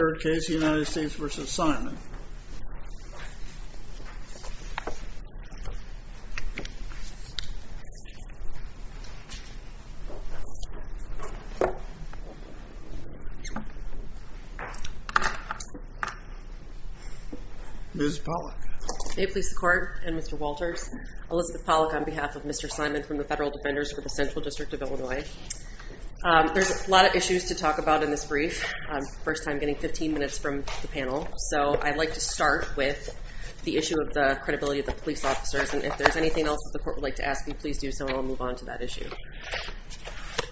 Third case, United States v. Simon Ms. Pollack May it please the Court, and Mr. Walters, Elizabeth Pollack on behalf of Mr. Simon from the Federal Defenders for the Central District of Illinois. There's a lot of issues to talk about in this brief, first time getting 15 minutes from the panel, so I'd like to start with the issue of the credibility of the police officers, and if there's anything else that the Court would like to ask you, please do so and we'll move on to that issue.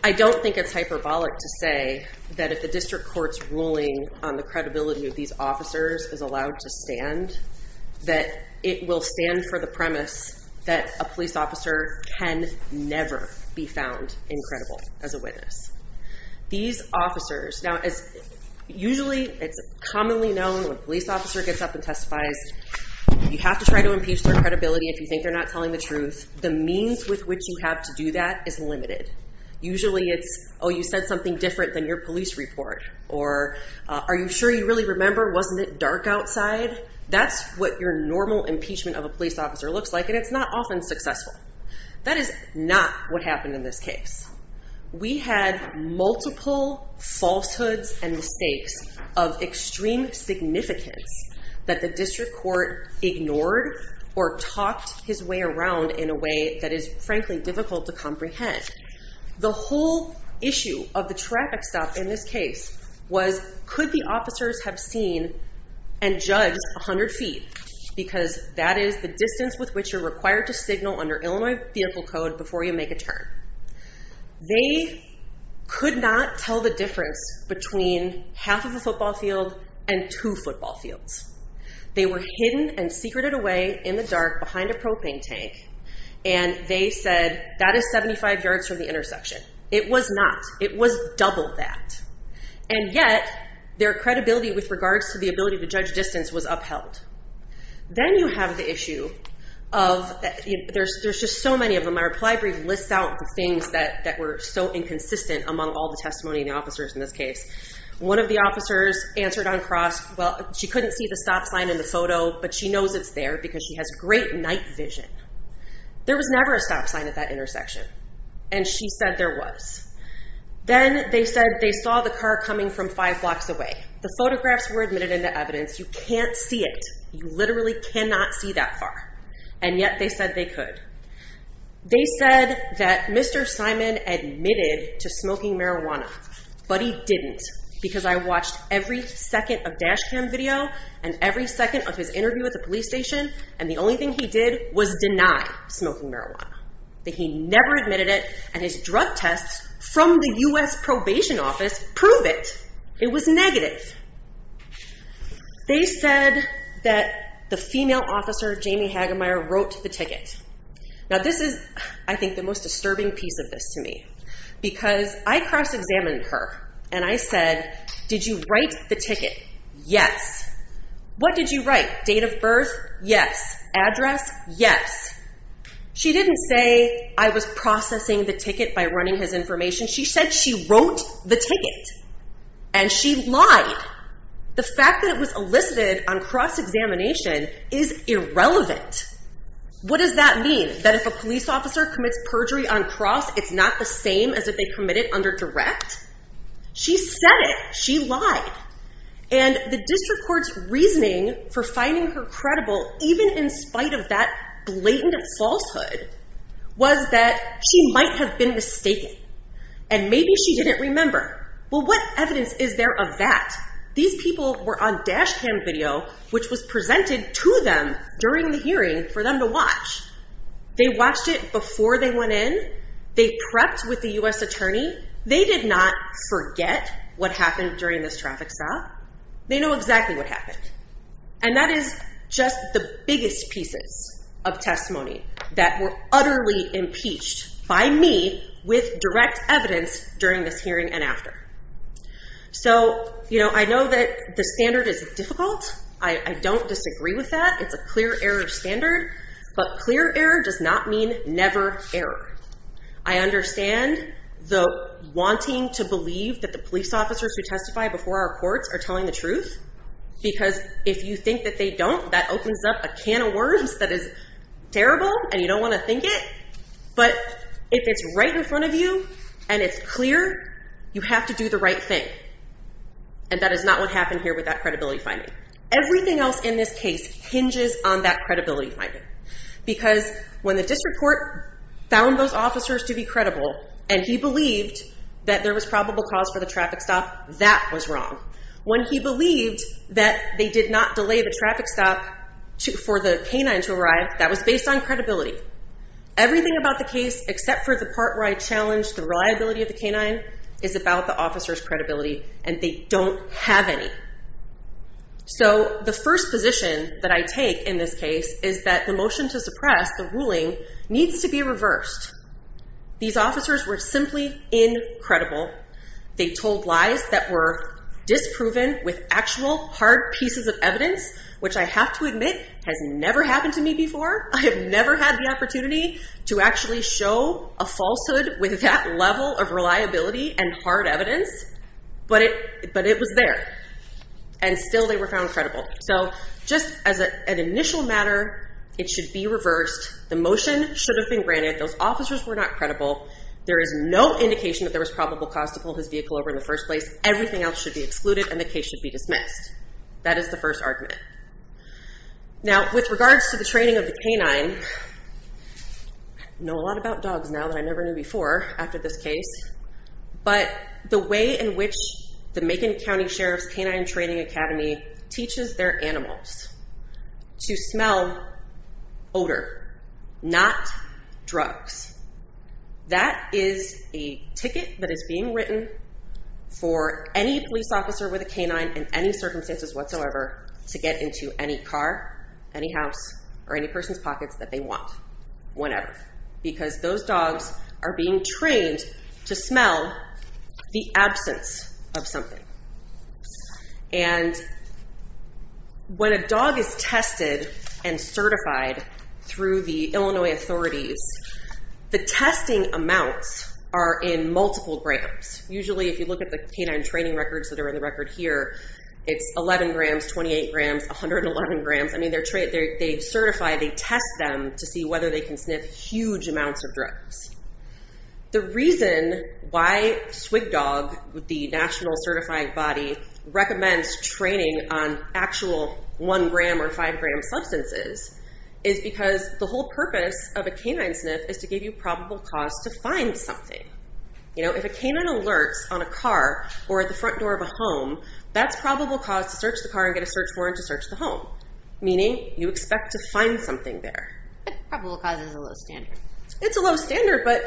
I don't think it's hyperbolic to say that if the district court's ruling on the credibility of these officers is allowed to stand, that it will stand for the premise that a police officer be found incredible as a witness. These officers, now usually it's commonly known when a police officer gets up and testifies, you have to try to impeach their credibility if you think they're not telling the truth. The means with which you have to do that is limited. Usually it's, oh, you said something different than your police report, or are you sure you really remember? Wasn't it dark outside? That's what your normal impeachment of a police officer looks like, and it's not often successful. That is not what happened in this case. We had multiple falsehoods and mistakes of extreme significance that the district court ignored or talked his way around in a way that is, frankly, difficult to comprehend. The whole issue of the traffic stop in this case was, could the officers have seen and judged 100 feet, because that is the distance with which you're required to signal under Illinois vehicle code before you make a turn. They could not tell the difference between half of the football field and two football fields. They were hidden and secreted away in the dark behind a propane tank, and they said that is 75 yards from the intersection. It was not. It was double that, and yet their credibility with regards to the ability to judge distance was upheld. Then you have the issue of, there's just so many of them. My reply brief lists out the things that were so inconsistent among all the testimony of the officers in this case. One of the officers answered on cross, well, she couldn't see the stop sign in the photo, but she knows it's there because she has great night vision. There was never a stop sign at that intersection, and she said there was. Then they said they saw the car coming from five blocks away. The photographs were admitted into evidence. You can't see it. You literally cannot see that far, and yet they said they could. They said that Mr. Simon admitted to smoking marijuana, but he didn't because I watched every second of dash cam video and every second of his interview at the police station, and the only thing he did was deny smoking marijuana, that he never admitted it, and his drug tests from the U.S. probation office prove it. It was negative. They said that the female officer, Jamie Hagemeyer, wrote the ticket. Now, this is, I think, the most disturbing piece of this to me because I cross-examined her, and I said, did you write the ticket? Yes. What did you write? Date of birth? Yes. Address? Yes. She didn't say, I was processing the ticket by running his information. She said she wrote the ticket, and she lied. The fact that it was elicited on cross-examination is irrelevant. What does that mean? That if a police officer commits perjury on cross, it's not the same as if they commit it under direct? She said it. She lied, and the district court's reasoning for finding her credible, even in spite of that blatant falsehood was that she might have been mistaken, and maybe she didn't remember. Well, what evidence is there of that? These people were on dash cam video, which was presented to them during the hearing for them to watch. They watched it before they went in. They prepped with the U.S. attorney. They did not forget what happened during this traffic stop. They know exactly what happened. And that is just the biggest pieces of testimony that were utterly impeached by me with direct evidence during this hearing and after. So I know that the standard is difficult. I don't disagree with that. It's a clear error standard, but clear error does not mean never error. I understand the wanting to believe that the police officers who testify before our courts are telling the truth, because if you think that they don't, that opens up a can of worms that is terrible, and you don't want to think it. But if it's right in front of you, and it's clear, you have to do the right thing. And that is not what happened here with that credibility finding. Everything else in this case hinges on that credibility finding, because when the district court found those officers to be credible, and he believed that there was probable cause for the traffic stop, that was wrong. When he believed that they did not delay the traffic stop for the canine to arrive, that was based on credibility. Everything about the case, except for the part where I challenged the reliability of the canine, is about the officer's credibility, and they don't have any. So the first position that I take in this case is that the motion to suppress, the ruling, needs to be reversed. These officers were simply incredible. They told lies that were disproven with actual hard pieces of evidence, which I have to admit has never happened to me before. I have never had the opportunity to actually show a falsehood with that level of reliability and hard evidence, but it was there. And still they were found credible. So just as an initial matter, it should be reversed. The motion should have been granted. Those officers were not credible. There is no indication that there was probable cause to pull his vehicle over in the first place. Everything else should be excluded and the case should be dismissed. That is the first argument. Now with regards to the training of the canine, I know a lot about dogs now that I never knew before after this case, but the way in which the Macon County Sheriff's Canine Training Academy teaches their animals to smell odor, not drugs. That is a ticket that is being written for any police officer with a canine in any circumstances whatsoever to get into any car, any house, or any person's pockets that they want, whenever. Because those dogs are being trained to smell the absence of something. And when a dog is tested and certified through the Illinois authorities, the testing amounts are in multiple grams. Usually if you look at the canine training records that are in the record here, it's 11 grams, 28 grams, 111 grams. They certify, they test them to see whether they can sniff huge amounts of drugs. The reason why SWGDOG, the National Certified Body, recommends training on actual one gram or five gram substances is because the whole purpose of a canine sniff is to give you probable cause to find something. If a canine alerts on a car or at the front door of a home, that's probable cause to search the car and get a search warrant to search the home, meaning you expect to find something there. That probable cause is a low standard. It's a low standard, but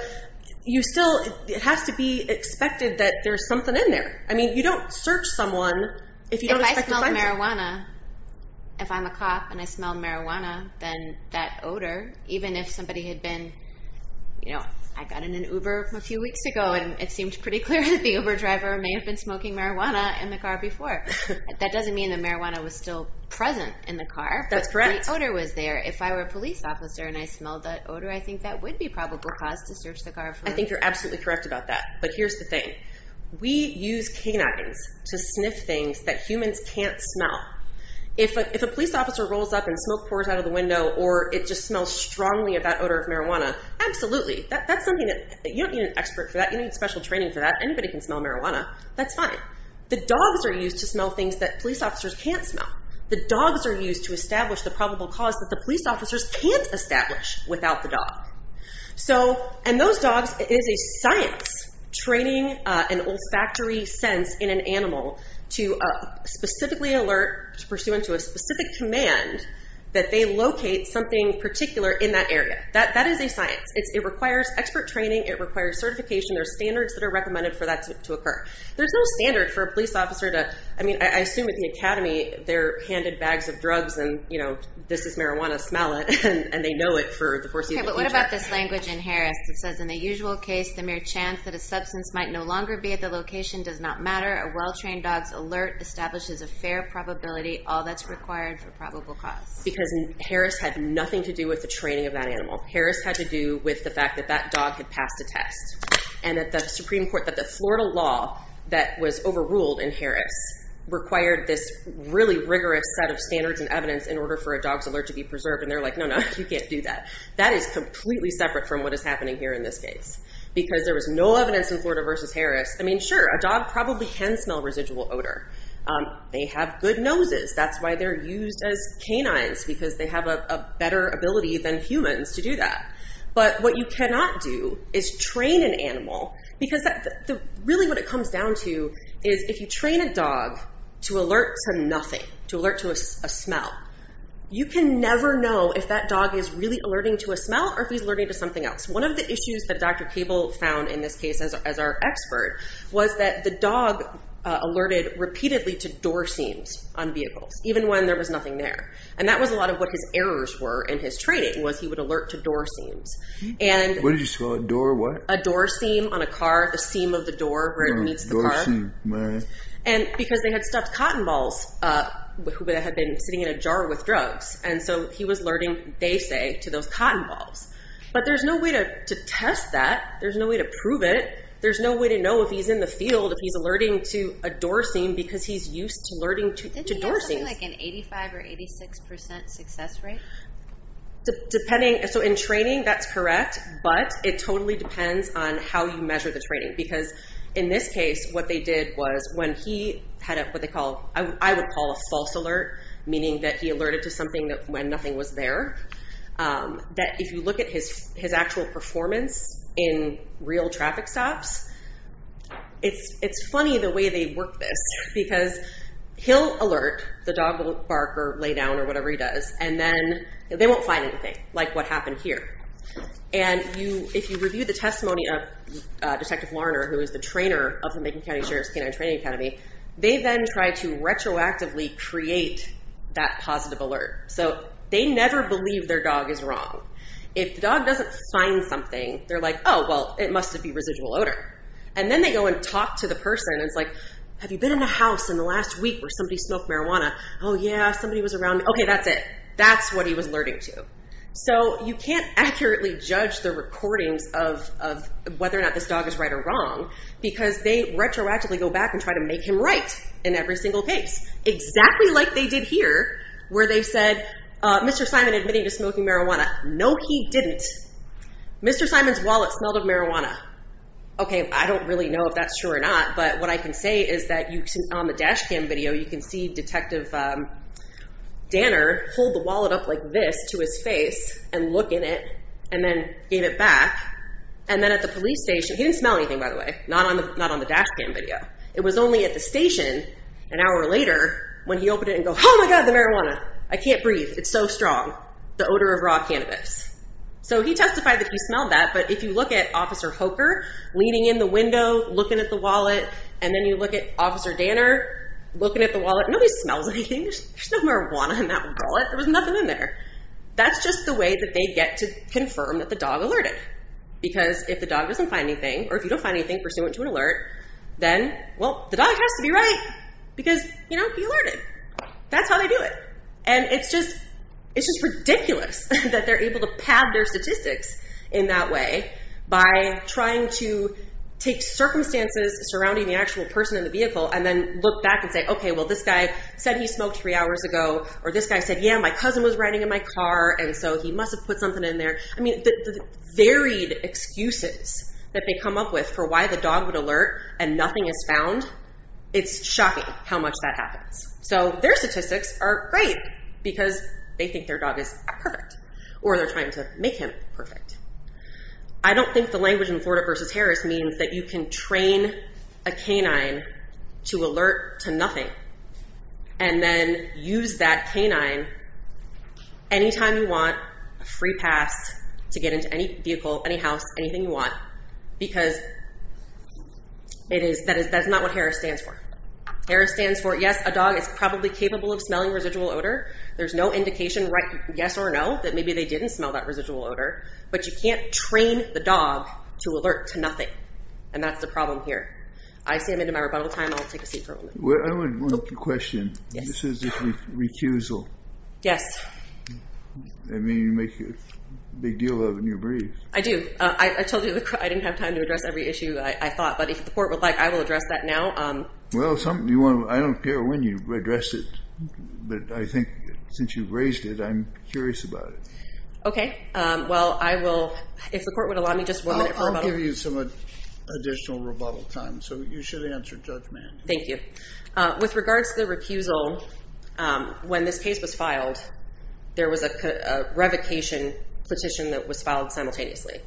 you still, it has to be expected that there's something in there. I mean, you don't search someone if you don't expect to find them. If I smell marijuana, if I'm a cop and I smell marijuana, then that odor, even if somebody had been, you know, I got in an Uber a few weeks ago and it seemed pretty clear that the Uber driver may have been smoking marijuana in the car before. That doesn't mean the marijuana was still present in the car. That's correct. The odor was there. If I were a police officer and I smelled that odor, I think that would be probable cause to search the car. I think you're absolutely correct about that. But here's the thing. We use canines to sniff things that humans can't smell. If a police officer rolls up and smoke pours out of the window or it just smells strongly of that odor of marijuana, absolutely, that's something that you don't need an expert for that. You need special training for that. Anybody can smell marijuana. That's fine. The dogs are used to smell things that police officers can't smell. The dogs are used to establish the probable cause that the police officers can't establish without the dog. And those dogs, it is a science training an olfactory sense in an animal to specifically alert to pursue into a specific command that they locate something particular in that area. That is a science. It requires expert training. It requires certification. There are standards that are recommended for that to occur. There's no standard for a police officer to, I mean, I assume at the academy they're handed bags of drugs and, you know, this is marijuana, smell it, and they know it for the foreseeable future. But what about this language in Harris that says, in the usual case, the mere chance that a substance might no longer be at the location does not matter. A well-trained dog's alert establishes a fair probability, all that's required for probable cause. Because Harris had nothing to do with the training of that animal. Harris had to do with the fact that that dog had passed a test. And that the Supreme Court, that the Florida law that was overruled in Harris required this really rigorous set of standards and evidence in order for a dog's alert to be preserved. And they're like, no, no, you can't do that. That is completely separate from what is happening here in this case. Because there was no evidence in Florida versus Harris. I mean, sure, a dog probably can smell residual odor. They have good noses. That's why they're used as canines, because they have a better ability than humans to do that. But what you cannot do is train an animal, because really what it comes down to is if you train a dog to alert to nothing, to alert to a smell, you can never know if that dog is really alerting to a smell or if he's alerting to something else. One of the issues that Dr. Cable found in this case as our expert was that the dog alerted repeatedly to door seams on vehicles, even when there was nothing there. And that was a lot of what his errors were in his training, was he would alert to door seams. What did you smell? A door what? A door seam on a car, the seam of the door where it meets the car. And because they had stuffed cotton balls that had been sitting in a jar with drugs. And so he was alerting, they say, to those cotton balls. But there's no way to test that. There's no way to prove it. There's no way to know if he's in the field, if he's alerting to a door seam, because he's used to alerting to door seams. So is he like an 85 or 86% success rate? Depending. So in training, that's correct, but it totally depends on how you measure the training. Because in this case, what they did was when he had what they call, I would call a false alert, meaning that he alerted to something when nothing was there. That if you look at his actual performance in real traffic stops, it's funny the way they work this, because he'll alert, the dog will bark or lay down or whatever he does, and then they won't find anything, like what happened here. And if you review the testimony of Detective Larner, who is the trainer of the Macon County Sheriff's Canine Training Academy, they then try to retroactively create that positive alert. So they never believe their dog is wrong. If the dog doesn't find something, they're like, oh, well, it must've be residual odor. And then they go and talk to the person, and it's like, have you been in a house in the last week where somebody smoked marijuana? Oh, yeah, somebody was around, okay, that's it. That's what he was alerting to. So you can't accurately judge the recordings of whether or not this dog is right or wrong, because they retroactively go back and try to make him right in every single case, exactly like they did here, where they said, Mr. Simon admitted to smoking marijuana. No, he didn't. Mr. Simon's wallet smelled of marijuana. Okay, I don't really know if that's true or not, but what I can say is that on the dash cam video, you can see Detective Danner hold the wallet up like this to his face and look in it, and then gave it back. And then at the police station, he didn't smell anything, by the way, not on the dash cam video. It was only at the station, an hour later, when he opened it and go, oh my God, the marijuana. I can't breathe. It's so strong. The odor of raw cannabis. So he testified that he smelled that, but if you look at Officer Hoker leaning in the window, looking at the wallet, and then you look at Officer Danner looking at the wallet, nobody smells anything. There's no marijuana in that wallet. There was nothing in there. That's just the way that they get to confirm that the dog alerted, because if the dog doesn't find anything, or if you don't find anything pursuant to an alert, then, well, the dog has to be right, because, you know, he alerted. That's how they do it. And it's just ridiculous that they're able to pad their statistics in that way by trying to take circumstances surrounding the actual person in the vehicle and then look back and say, okay, well, this guy said he smoked three hours ago, or this guy said, yeah, my cousin was riding in my car, and so he must have put something in there. I mean, the varied excuses that they come up with for why the dog would alert and nothing is found, it's shocking how much that happens. So their statistics are great, because they think their dog is perfect, or they're trying to make him perfect. I don't think the language in Florida v. Harris means that you can train a canine to alert to nothing and then use that canine anytime you want, a free pass to get into any vehicle, any house, anything you want, because that's not what Harris stands for. Harris stands for, yes, a dog is probably capable of smelling residual odor. There's no indication, yes or no, that maybe they didn't smell that residual odor, but you can't train the dog to alert to nothing, and that's the problem here. I see I'm into my rebuttal time. I'll take a seat for a moment. I have one question. Yes. This is a recusal. Yes. I mean, you make a big deal of it when you breathe. I do. I told you I didn't have time to address every issue I thought, but if the court would like, I will address that now. Well, I don't care when you address it, but I think since you've raised it, I'm curious about it. Okay. Well, I will, if the court would allow me just one minute for rebuttal. I'll give you some additional rebuttal time, so you should answer judgment. Thank you. With regards to the recusal, when this case was filed, there was a revocation petition that was filed simultaneously.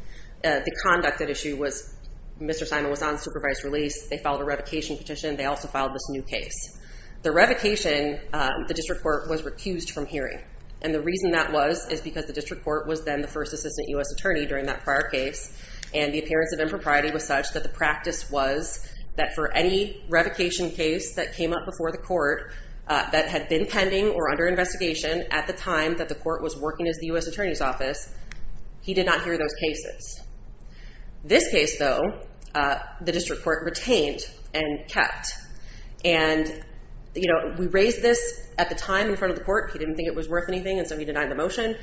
The conduct at issue was Mr. Simon was on supervised release. They filed a revocation petition. They also filed this new case. The revocation, the district court was recused from hearing, and the reason that was is because the district court was then the first assistant U.S. attorney during that prior case, and the appearance of impropriety was such that the practice was that for any revocation case that came up before the court that had been pending or under investigation at the time that the court was working as the U.S. attorney's office, he did not hear those cases. This case, though, the district court retained and kept, and, you know, we raised this at the time in front of the court. He didn't think it was worth anything, and so he denied the motion.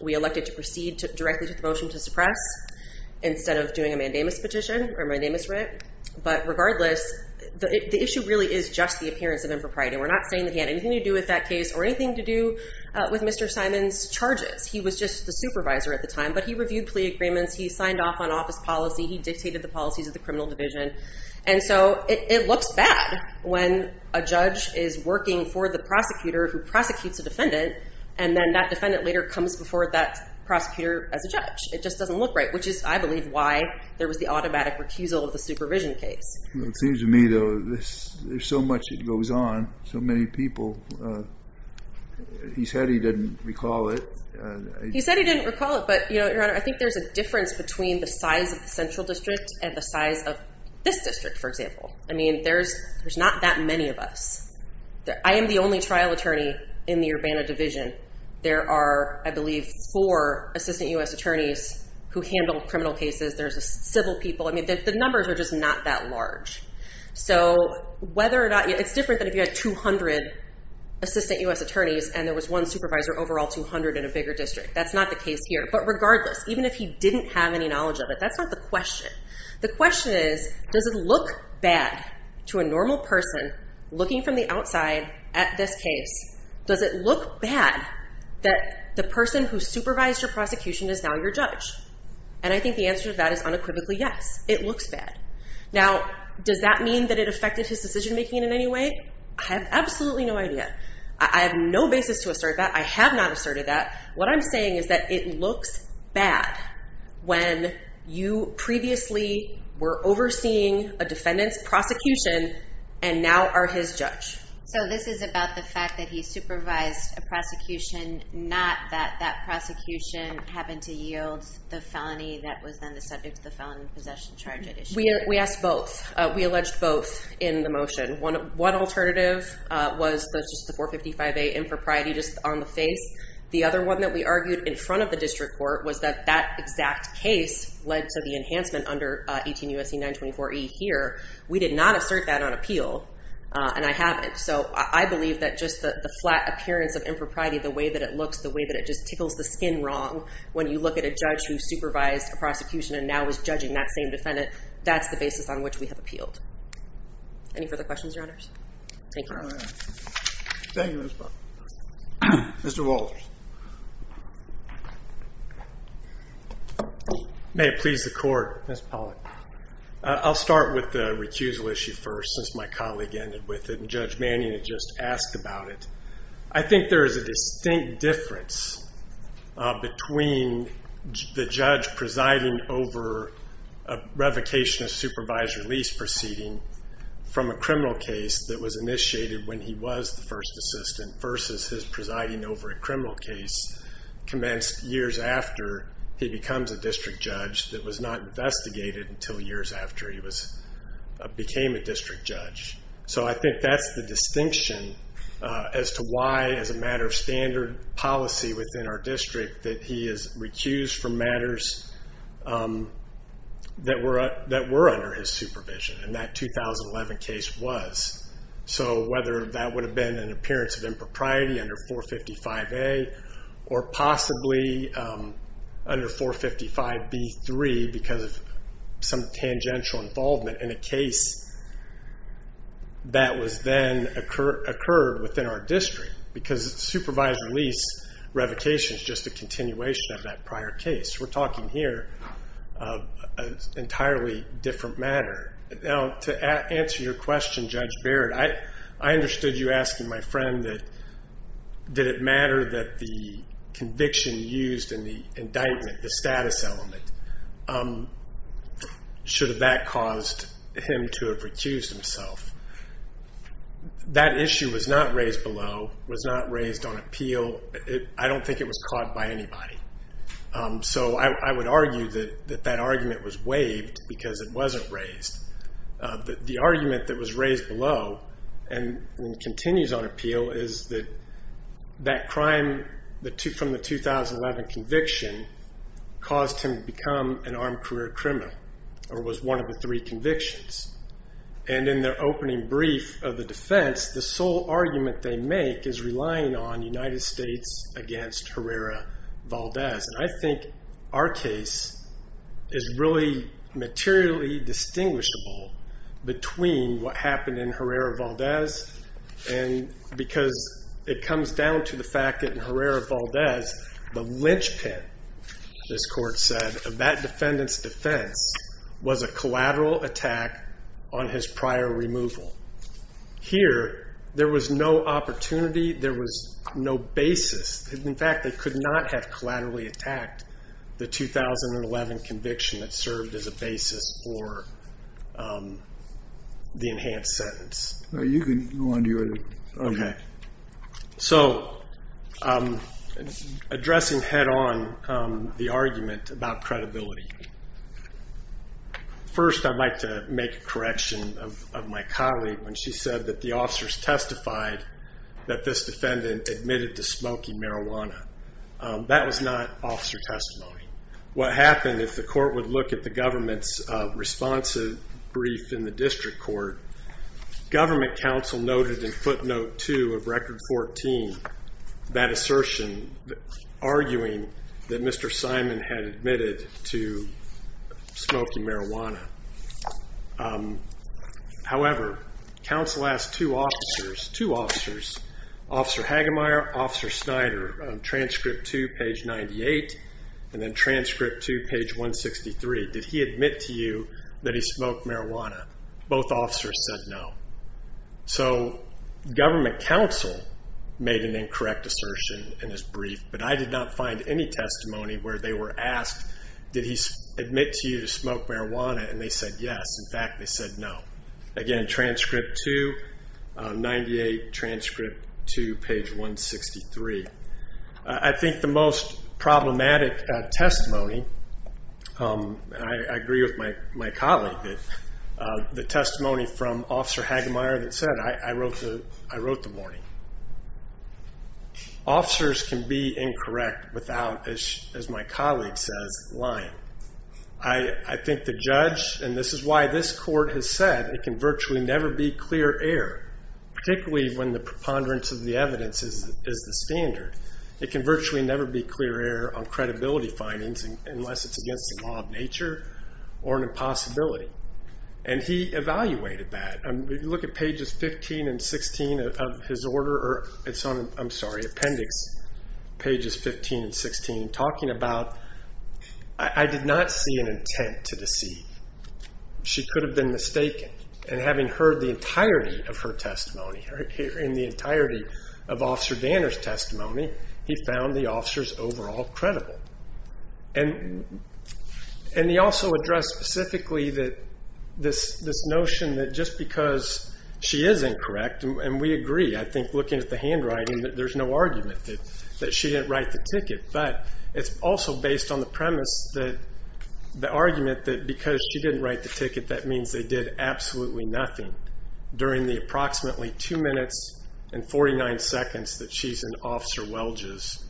We elected to proceed directly to the motion to suppress instead of doing a mandamus petition or a mandamus writ, but regardless, the issue really is just the appearance of impropriety. We're not saying that he had anything to do with that case or anything to do with Mr. Simon's charges. He was just the supervisor at the time, but he reviewed plea agreements. He signed off on office policy. He dictated the policies of the criminal division, and so it looks bad when a judge is working for the prosecutor who prosecutes a defendant, and then that defendant later comes before that prosecutor as a judge. It just doesn't look right, which is, I believe, why there was the automatic recusal of the supervision case. Well, it seems to me, though, there's so much that goes on, so many people. He said he didn't recall it. He said he didn't recall it, but, Your Honor, I think there's a difference between the size of the central district and the size of this district, for example. I mean, there's not that many of us. I am the only trial attorney in the Urbana division. There are, I believe, four assistant U.S. attorneys who handle criminal cases. There's civil people. I mean, the numbers are just not that large, so whether or not... It's different than if you had 200 assistant U.S. attorneys and there was one supervisor overall, 200 in a bigger district. That's not the case here, but regardless, even if he didn't have any knowledge of it, that's not the question. The question is, does it look bad to a normal person looking from the outside at this case? Does it look bad that the person who supervised your prosecution is now your judge? And I think the answer to that is unequivocally yes. It looks bad. Now, does that mean that it affected his decision making in any way? I have absolutely no idea. I have no basis to assert that. I have not asserted that. What I'm saying is that it looks bad when you previously were overseeing a defendant's prosecution and now are his judge. So this is about the fact that he supervised a prosecution, not that that prosecution happened to yield the felony that was then the subject of the Felony Possession Charge addition. We asked both. We alleged both in the motion. One alternative was just the 455A impropriety just on the face. The other one that we argued in front of the district court was that that exact case led to the enhancement under 18 U.S.C. 924E here. We did not assert that on appeal, and I haven't. So I believe that just the flat appearance of impropriety, the way that it looks, the way that it just tickles the skin wrong when you look at a judge who supervised a prosecution and now is judging that same defendant, that's the basis on which we have appealed. Any further questions, Your Honors? Thank you. Thank you, Ms. Pollack. Mr. Walters. May it please the Court, Ms. Pollack. I'll start with the recusal issue first since my colleague ended with it and Judge Manning had just asked about it. I think there is a distinct difference between the judge presiding over a revocation of supervised release proceeding from a criminal case that was initiated when he was the first assistant versus his presiding over a criminal case commenced years after he becomes a district judge that was not investigated until years after he became a district judge. So I think that's the distinction as to why as a matter of standard policy within our district that he is recused from matters that were under his supervision and that 2011 case was. So whether that would have been an appearance of impropriety under 455A or possibly under 455B3 because of some tangential involvement in a case that was then occurred within our district because supervised release revocation is just a continuation of that prior case. We're talking here of an entirely different matter. To answer your question, Judge Baird, I understood you asking my friend that did it matter that the conviction used in the indictment, the status element, should have that caused him to have recused himself. That issue was not raised below, was not raised on appeal. I don't think it was caught by anybody. So I would argue that that argument was waived because it wasn't raised. The argument that was raised below and continues on appeal is that crime from the 2011 conviction caused him to become an armed career criminal or was one of the three convictions. And in their opening brief of the defense, the sole argument they make is relying on United States against Herrera Valdez. I think our case is really materially distinguishable between what happened in Herrera Valdez and because it comes down to the fact that in Herrera Valdez, the linchpin, this court said, of that defendant's defense was a collateral attack on his prior removal. Here there was no opportunity, there was no basis. In fact, they could not have collaterally attacked the 2011 conviction that served as a basis for the enhanced sentence. You can go on to your other. So addressing head on the argument about credibility. First I'd like to make a correction of my colleague when she said that the officers testified that this defendant admitted to smoking marijuana. That was not officer testimony. What happened is the court would look at the government's responsive brief in the district court. Government counsel noted in footnote two of record 14 that assertion arguing that Mr. Simon had admitted to smoking marijuana. However, counsel asked two officers, Officer Hagemeyer, Officer Snyder, transcript two, page 98, and then transcript two, page 163, did he admit to you that he smoked marijuana? Both officers said no. So government counsel made an incorrect assertion in his brief, but I did not find any testimony where they were asked, did he admit to you that he smoked marijuana, and they said yes. In fact, they said no. Again transcript two, page 163. I think the most problematic testimony, and I agree with my colleague, the testimony from Officer Hagemeyer that said, I wrote the warning. Officers can be incorrect without, as my colleague says, lying. I think the judge, and this is why this court has said, it can virtually never be clear error, particularly when the preponderance of the evidence is the standard. It can virtually never be clear error on credibility findings unless it's against the law of nature or an impossibility. And he evaluated that. If you look at pages 15 and 16 of his order, or it's on, I'm sorry, appendix pages 15 and 16, talking about, I did not see an intent to deceive. She could have been mistaken. And having heard the entirety of her testimony, in the entirety of Officer Danner's testimony, he found the officers overall credible. And he also addressed specifically this notion that just because she is incorrect, and we agree, I think looking at the handwriting, there's no argument that she didn't write the ticket. But it's also based on the premise that, the argument that because she didn't write the ticket, that means they did absolutely nothing during the approximately two minutes and 49 seconds that she's in Officer Welge's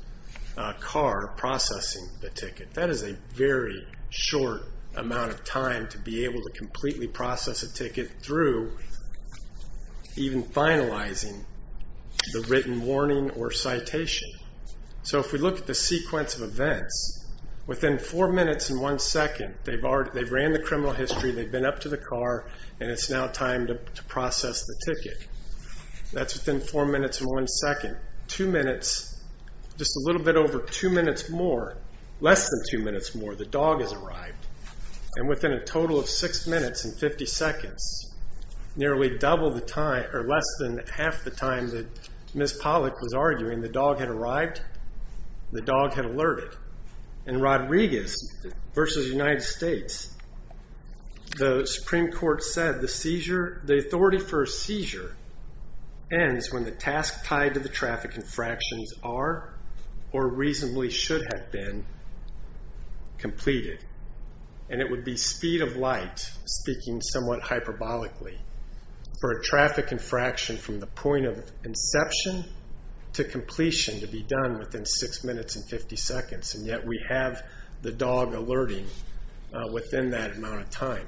car processing the ticket. That is a very short amount of time to be able to completely process a ticket through even finalizing the written warning or citation. So if we look at the sequence of events, within four minutes and one second, they've ran the criminal history, they've been up to the car, and it's now time to process the ticket. That's within four minutes and one second. Two minutes, just a little bit over two minutes more, less than two minutes more, the dog has arrived. And within a total of six minutes and 50 seconds, nearly double the time, or less than half the time that Ms. Pollack was arguing, the dog had arrived, the dog had alerted. In Rodriguez versus United States, the Supreme Court said the seizure, the authority for a seizure ends when the task tied to the traffic infractions are, or reasonably should have been, completed. And it would be speed of light, speaking somewhat hyperbolically, for a traffic infraction from the point of inception to completion to be done within six minutes and 50 seconds. And yet we have the dog alerting within that amount of time.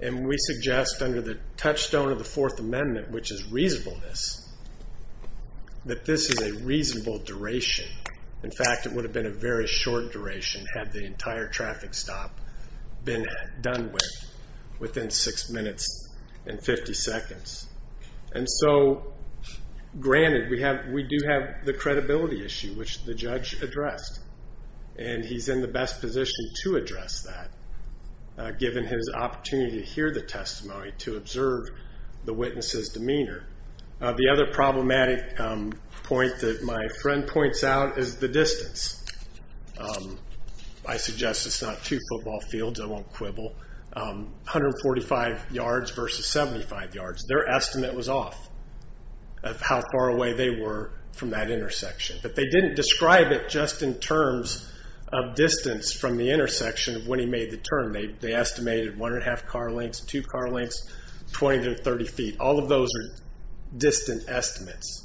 And we suggest under the touchstone of the Fourth Amendment, which is reasonableness, that this is a reasonable duration. In fact, it would have been a very short duration had the entire traffic stop been done within six minutes and 50 seconds. And so, granted, we do have the credibility issue, which the judge addressed. And he's in the best position to address that, given his opportunity to hear the testimony, to observe the witness's demeanor. The other problematic point that my friend points out is the distance. I suggest it's not two football fields, I won't quibble. 145 yards versus 75 yards. Their estimate was off of how far away they were from that intersection. But they didn't describe it just in terms of distance from the intersection of when he made the turn. They estimated one and a half car lengths, two car lengths, 20 to 30 feet. All of those are distant estimates.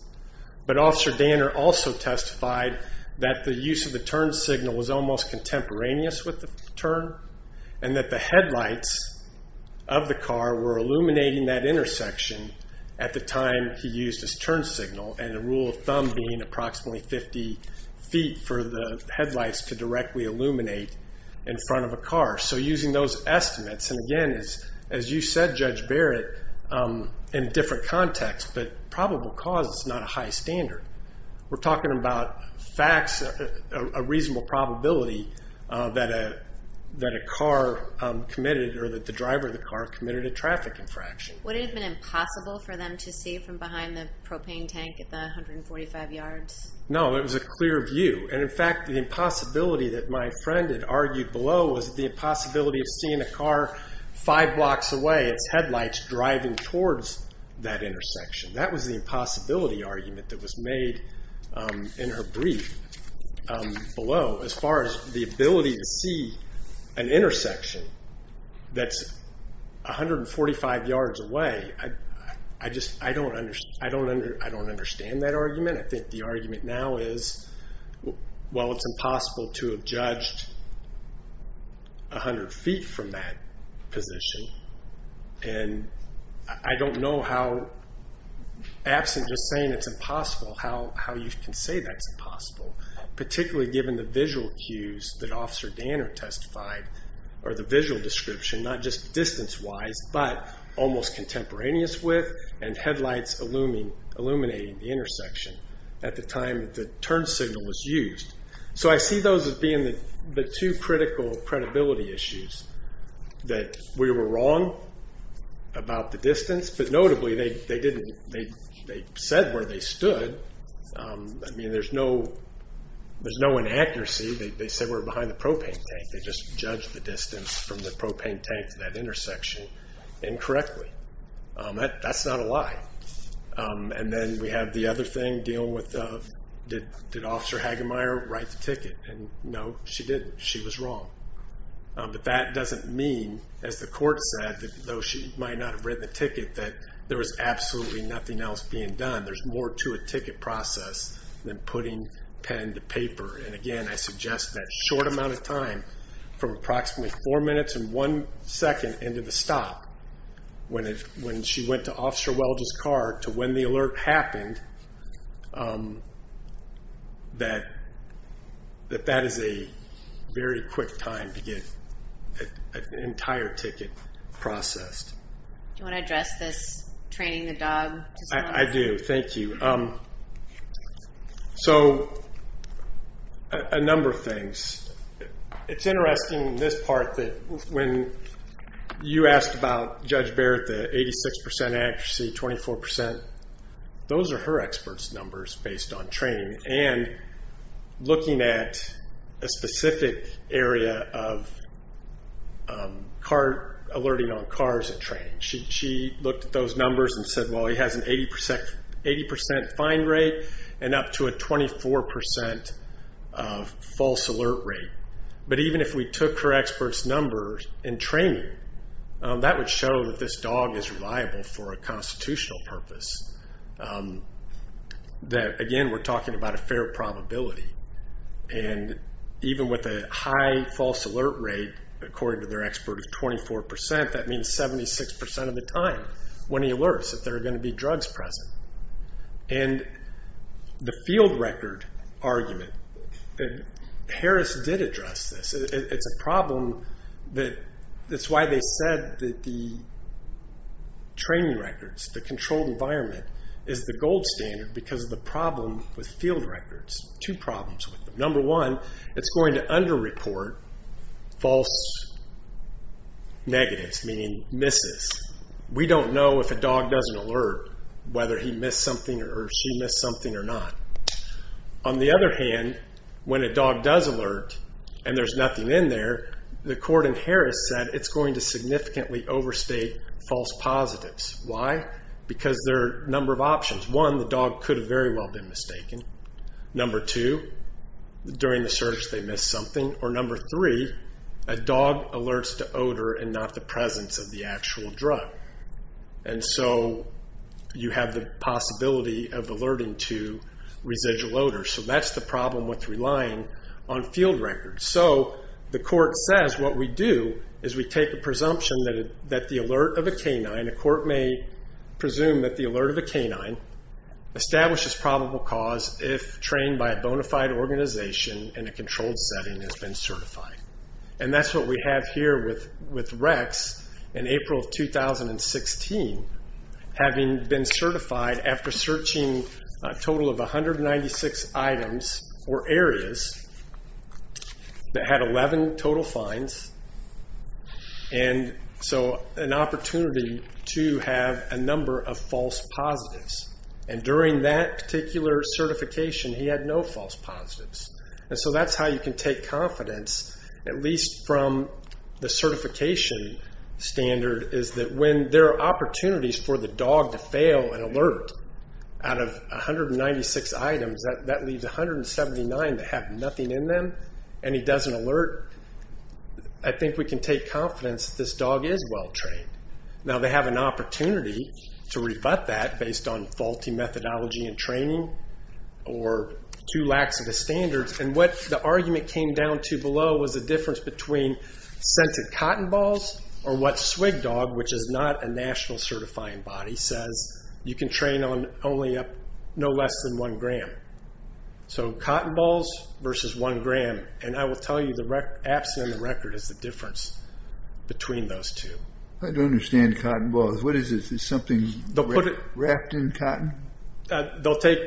But Officer Danner also testified that the use of the turn signal was almost contemporaneous with the turn, and that the headlights of the car were illuminating that intersection at the time he used his turn signal. And the rule of thumb being approximately 50 feet for the headlights to directly illuminate in front of a car. So using those estimates, and again, as you said, Judge Barrett, in different contexts, but probable cause is not a high standard. We're talking about facts, a reasonable probability that a car committed, or that the driver of the car committed a traffic infraction. Would it have been impossible for them to see from behind the propane tank at the 145 yards? No, it was a clear view. And in fact, the impossibility that my friend had argued below was the impossibility of seeing a car five blocks away, its headlights driving towards that intersection. That was the impossibility argument that was made in her brief below, as far as the ability to see an intersection that's 145 yards away. I don't understand that argument. I think the argument now is, well, it's impossible to have judged 100 feet from that position, and I don't know how, absent just saying it's impossible, how you can say that's impossible, particularly given the visual cues that Officer Danner testified, or the visual description, not just distance-wise, but almost contemporaneous with, and headlights illuminating the intersection at the time the turn signal was used. So I see those as being the two critical credibility issues, that we were wrong about the distance, but notably, they said where they stood. I mean, there's no inaccuracy. They said we're behind the propane tank. They just judged the distance from the propane tank to that intersection incorrectly. That's not a lie. And then we have the other thing dealing with, did Officer Hagemeyer write the ticket? And no, she didn't. She was wrong. But that doesn't mean, as the court said, that though she might not have written the ticket, that there was absolutely nothing else being done. There's more to a ticket process than putting pen to paper. And again, I suggest that short amount of time, from approximately four minutes and one second into the stop, when she went to Officer Welges' car, to when the alert happened, that that is a very quick time to get an entire ticket processed. Do you want to address this training the dog? I do. Thank you. So a number of things. It's interesting, this part, that when you asked about Judge Barrett the 86% accuracy, 24%, those are her experts' numbers based on training. And looking at a specific area of alerting on cars at training. She looked at those numbers and said, well, he has an 80% find rate and up to a 24% false alert rate. But even if we took her experts' numbers in training, that would show that this dog is reliable for a constitutional purpose. That again, we're talking about a fair probability. And even with a high false alert rate, according to their expert of 24%, that means 76% of the time, when he alerts, that there are going to be drugs present. And the field record argument, Harris did address this. It's a problem that's why they said that the training records, the controlled environment, is the gold standard because of the problem with field records. Two problems with them. Number one, it's going to under-report false negatives, meaning misses. We don't know if a dog does an alert, whether he missed something or she missed something or not. On the other hand, when a dog does alert and there's nothing in there, the court in Harris said it's going to significantly overstate false positives. Why? Because there are a number of options. One, the dog could have very well been mistaken. Number two, during the search they missed something. Or number three, a dog alerts to odor and not the presence of the actual drug. And so you have the possibility of alerting to residual odor. So that's the problem with relying on field records. So the court says what we do is we take a presumption that the alert of a canine, a court may presume that the alert of a canine establishes probable cause if trained by a bona fide organization in a controlled setting has been certified. And that's what we have here with Rex in April of 2016. Having been certified after searching a total of 196 items or areas that had 11 total finds. And so an opportunity to have a number of false positives. And during that particular certification he had no false positives. And so that's how you can take confidence at least from the certification standard is that when there are opportunities for the dog to fail an alert out of 196 items that leaves 179 that have nothing in them and he doesn't alert. I think we can take confidence this dog is well trained. Now they have an opportunity to rebut that based on faulty methodology and training or too lax in the standards. And what the argument came down to below was the difference between scented cotton balls or what SWGDOG, which is not a national certifying body, says you can train on only no less than one gram. So cotton balls versus one gram. And I will tell you the absolute record is the difference between those two. I don't understand cotton balls. What is it? Is it something wrapped in cotton? They'll take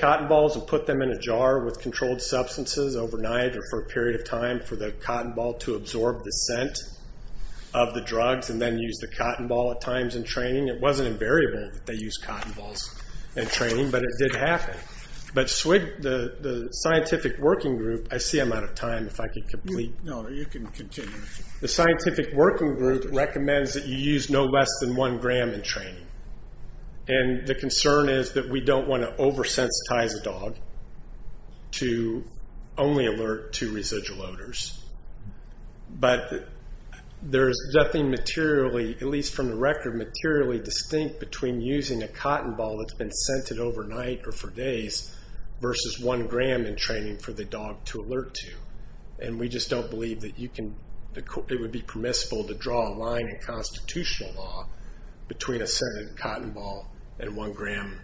cotton balls and put them in a jar with controlled substances overnight or for a period of time for the cotton ball to absorb the scent of the drugs and then use the cotton ball at times in training. It wasn't invariable that they used cotton balls in training, but it did happen. But SWG, the scientific working group, I see I'm out of time if I could complete. No, you can continue. The scientific working group recommends that you use no less than one gram in training. And the concern is that we don't want to oversensitize a dog to only alert to residual odors. But there's nothing materially, at least from the record, materially distinct between using a cotton ball that's been scented overnight or for days versus one gram in training for the dog to alert to. And we just don't believe that it would be permissible to draw a line in constitutional law between a scented cotton ball and one gram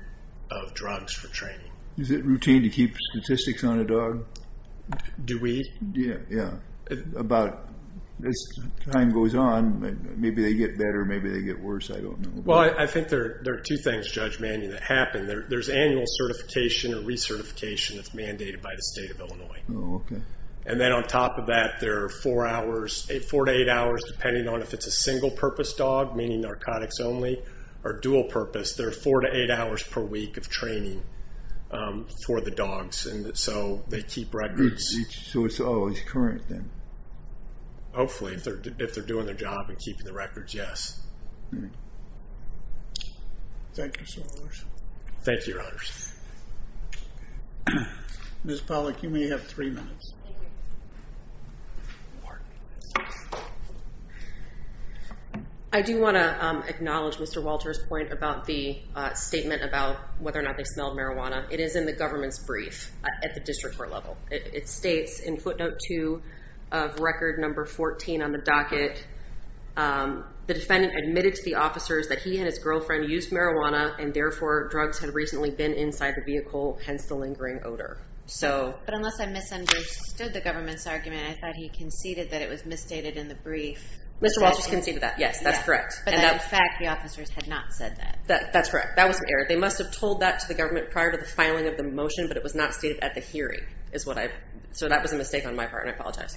of drugs for training. Is it routine to keep statistics on a dog? Do we? Yeah, yeah. About as time goes on, maybe they get better, maybe they get worse, I don't know. Well, I think there are two things, Judge Manning, that happen. There's annual certification or recertification that's mandated by the state of Illinois. Oh, okay. And then on top of that, there are four to eight hours, depending on if it's a single-purpose dog, meaning narcotics only, or dual-purpose. There are four to eight hours per week of training for the dogs. And so they keep records. So it's always current then? Hopefully, if they're doing their job and keeping the records, yes. Thank you, Senators. Thank you, Your Honors. Ms. Pollack, you may have three minutes. Thank you. I do want to acknowledge Mr. Walter's point about the statement about whether or not they smelled marijuana. It is in the government's brief at the district court level. It states in footnote two of record number 14 on the docket, the defendant admitted to the officers that he and his girlfriend used marijuana and therefore drugs had recently been inside the vehicle, hence the lingering odor. But unless I misunderstood the government's argument, I thought he conceded that it was misstated in the brief. Mr. Walter's conceded that, yes, that's correct. But in fact, the officers had not said that. That's correct. That was an error. They must have told that to the government prior to the filing of the motion, but it was not stated at the hearing. So that was a mistake on my part, and I apologize.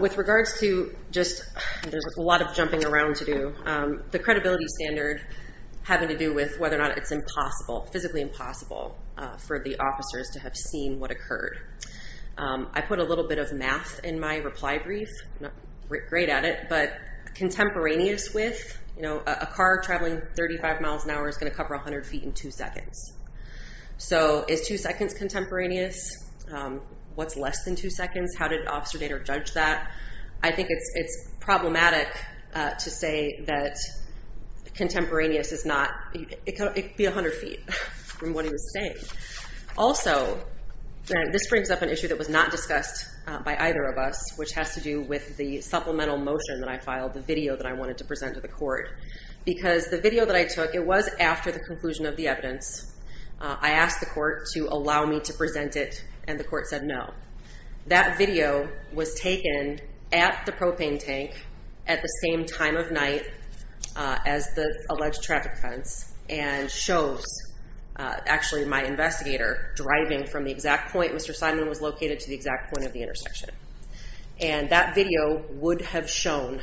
With regards to just... There's a lot of jumping around to do. The credibility standard having to do with whether or not it's impossible, physically impossible for the officers to have seen what occurred. I put a little bit of math in my reply brief. I'm not great at it, but contemporaneous with, you know, a car traveling 35 miles an hour is going to cover 100 feet in two seconds. So is two seconds contemporaneous? What's less than two seconds? How did Officer Dader judge that? I think it's problematic to say that contemporaneous is not... It could be 100 feet from what he was saying. Also, this brings up an issue that was not discussed by either of us, which has to do with the supplemental motion that I filed, the video that I wanted to present to the court, because the video that I took, it was after the conclusion of the evidence. I asked the court to allow me to present it, and the court said no. That video was taken at the propane tank at the same time of night as the alleged traffic fence, and shows actually my investigator driving from the exact point Mr. Simon was located to the exact point of the intersection. And that video would have shown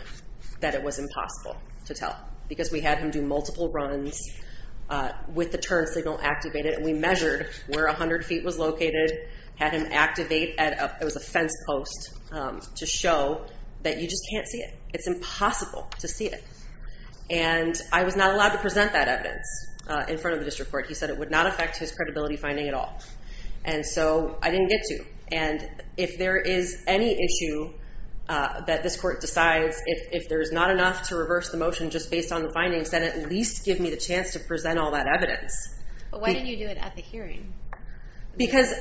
that it was impossible to tell, because we had him do multiple runs with the turn signal activated, and we measured where 100 feet was located, had him activate at a... It was a fence post to show that you just can't see it. It's impossible to see it. And I was not allowed to present that evidence in front of the district court. He said it would not affect his credibility finding at all. And so I didn't get to. And if there is any issue that this court decides, if there's not enough to reverse the motion just based on the findings, then at least give me the chance to present all that evidence. But why didn't you do it at the hearing? Because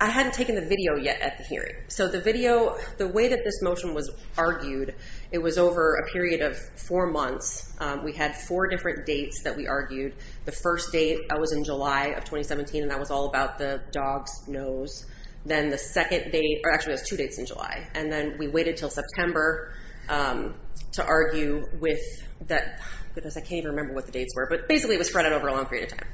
I hadn't taken the video yet at the hearing. So the video, the way that this motion was argued, it was over a period of four months. We had four different dates that we argued. The first date, that was in July of 2017, and that was all about the dog's nose. Then the second date, or actually it was two dates in July. And then we waited until September to argue with that... Goodness, I can't even remember what the dates were, but basically it was spread out over a long period of time.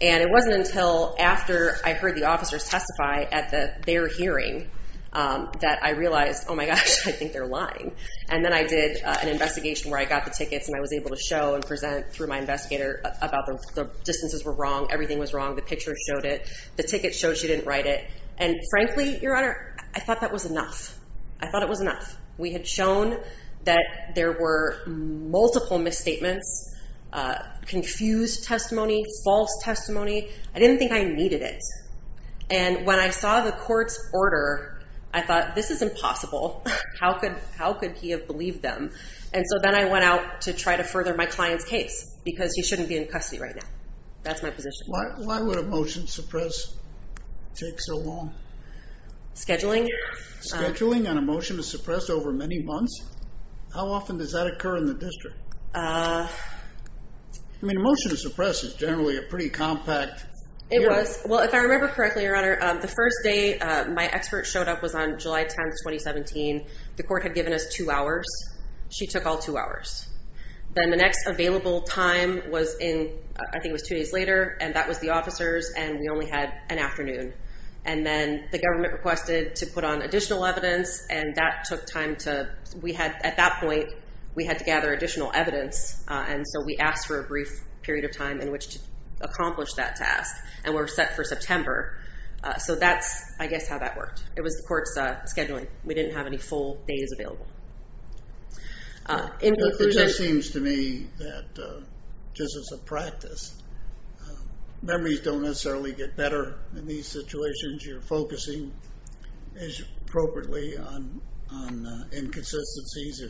And it wasn't until after I heard the officers testify at their hearing that I realized, oh my gosh, I think they're lying. And then I did an investigation where I got the tickets and I was able to show and present through my investigator about the distances were wrong, everything was wrong, the picture showed it, the ticket showed she didn't write it. And frankly, Your Honor, I thought that was enough. I thought it was enough. We had shown that there were multiple misstatements, confused testimony, false testimony. I didn't think I needed it. And when I saw the court's order, I thought, this is impossible. How could he have believed them? And so then I went out to try to further my client's case because he shouldn't be in custody right now. That's my position. Why would a motion suppress take so long? Scheduling. Scheduling on a motion to suppress over many months? How often does that occur in the district? I mean, a motion to suppress is generally a pretty compact. It was. Well, if I remember correctly, Your Honor, the first day my expert showed up was on July 10, 2017. The court had given us two hours. She took all two hours. Then the next available time was in, I think it was two days later, and that was the officers. And we only had an afternoon. And then the government requested to put on additional evidence. And that took time to, we had, at that point, we had to gather additional evidence. And so we asked for a brief period of time in which to accomplish that task. And we were set for September. So that's, I guess, how that worked. It was the court's scheduling. We didn't have any full days available. In conclusion. It just seems to me that, just as a practice, memories don't necessarily get better in these situations. You're focusing, appropriately, on inconsistencies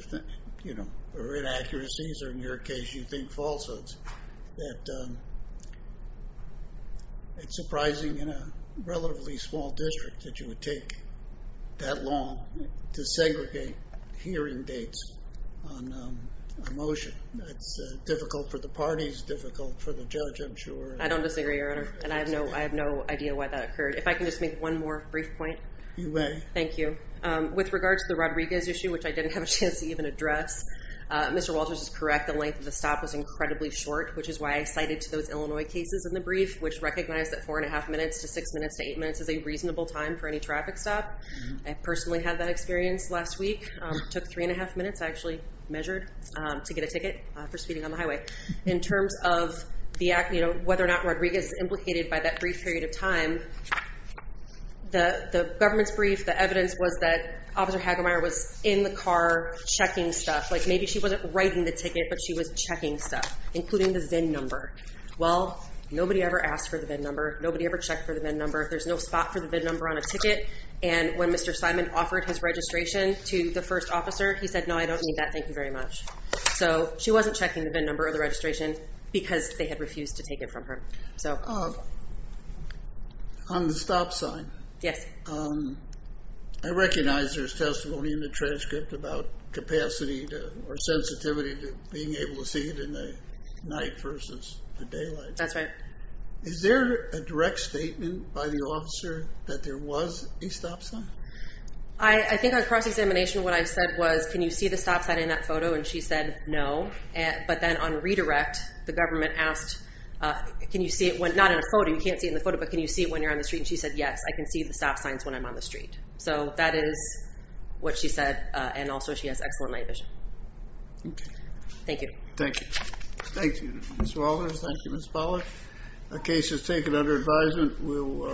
or inaccuracies, or in your case, you think falsehoods. That it's surprising in a relatively small district that you would take that long to segregate hearing dates on a motion. It's difficult for the parties, difficult for the judge, I'm sure. I don't disagree, Your Honor. And I have no idea why that occurred. If I can just make one more brief point. You may. Thank you. With regard to the Rodriguez issue, which I didn't have a chance to even address, Mr. Walters is correct. The length of the stop was incredibly short, which is why I cited to those Illinois cases in the brief, which recognized that four and a half minutes to six minutes to eight minutes is a reasonable time for any traffic stop. I personally had that experience last week. Took three and a half minutes, I actually measured, to get a ticket for speeding on the highway. In terms of whether or not Rodriguez is implicated by that brief period of time, the government's brief, the evidence was that Officer Hagelmeyer was in the car checking stuff. Like maybe she wasn't writing the ticket, but she was checking stuff, including the VIN number. Well, nobody ever asked for the VIN number. Nobody ever checked for the VIN number. There's no spot for the VIN number on a ticket. And when Mr. Simon offered his registration to the first officer, he said, no, I don't need that. Thank you very much. So she wasn't checking the VIN number of the registration because they had refused to take it from her. So. On the stop sign. Yes. I recognize there's testimony in the transcript about capacity or sensitivity to being able to see it in the night versus the daylight. That's right. Is there a direct statement by the officer that there was a stop sign? I think on cross-examination, what I said was, can you see the stop sign in that photo? And she said, no. But then on redirect, the government asked, can you see it when, not in a photo, you can't see in the photo, but can you see it when you're on the street? And she said, yes, I can see the stop signs when I'm on the street. So that is what she said. And also, she has excellent night vision. Thank you. Thank you. Thank you, Ms. Walters. Thank you, Ms. Pollard. The case is taken under advisement.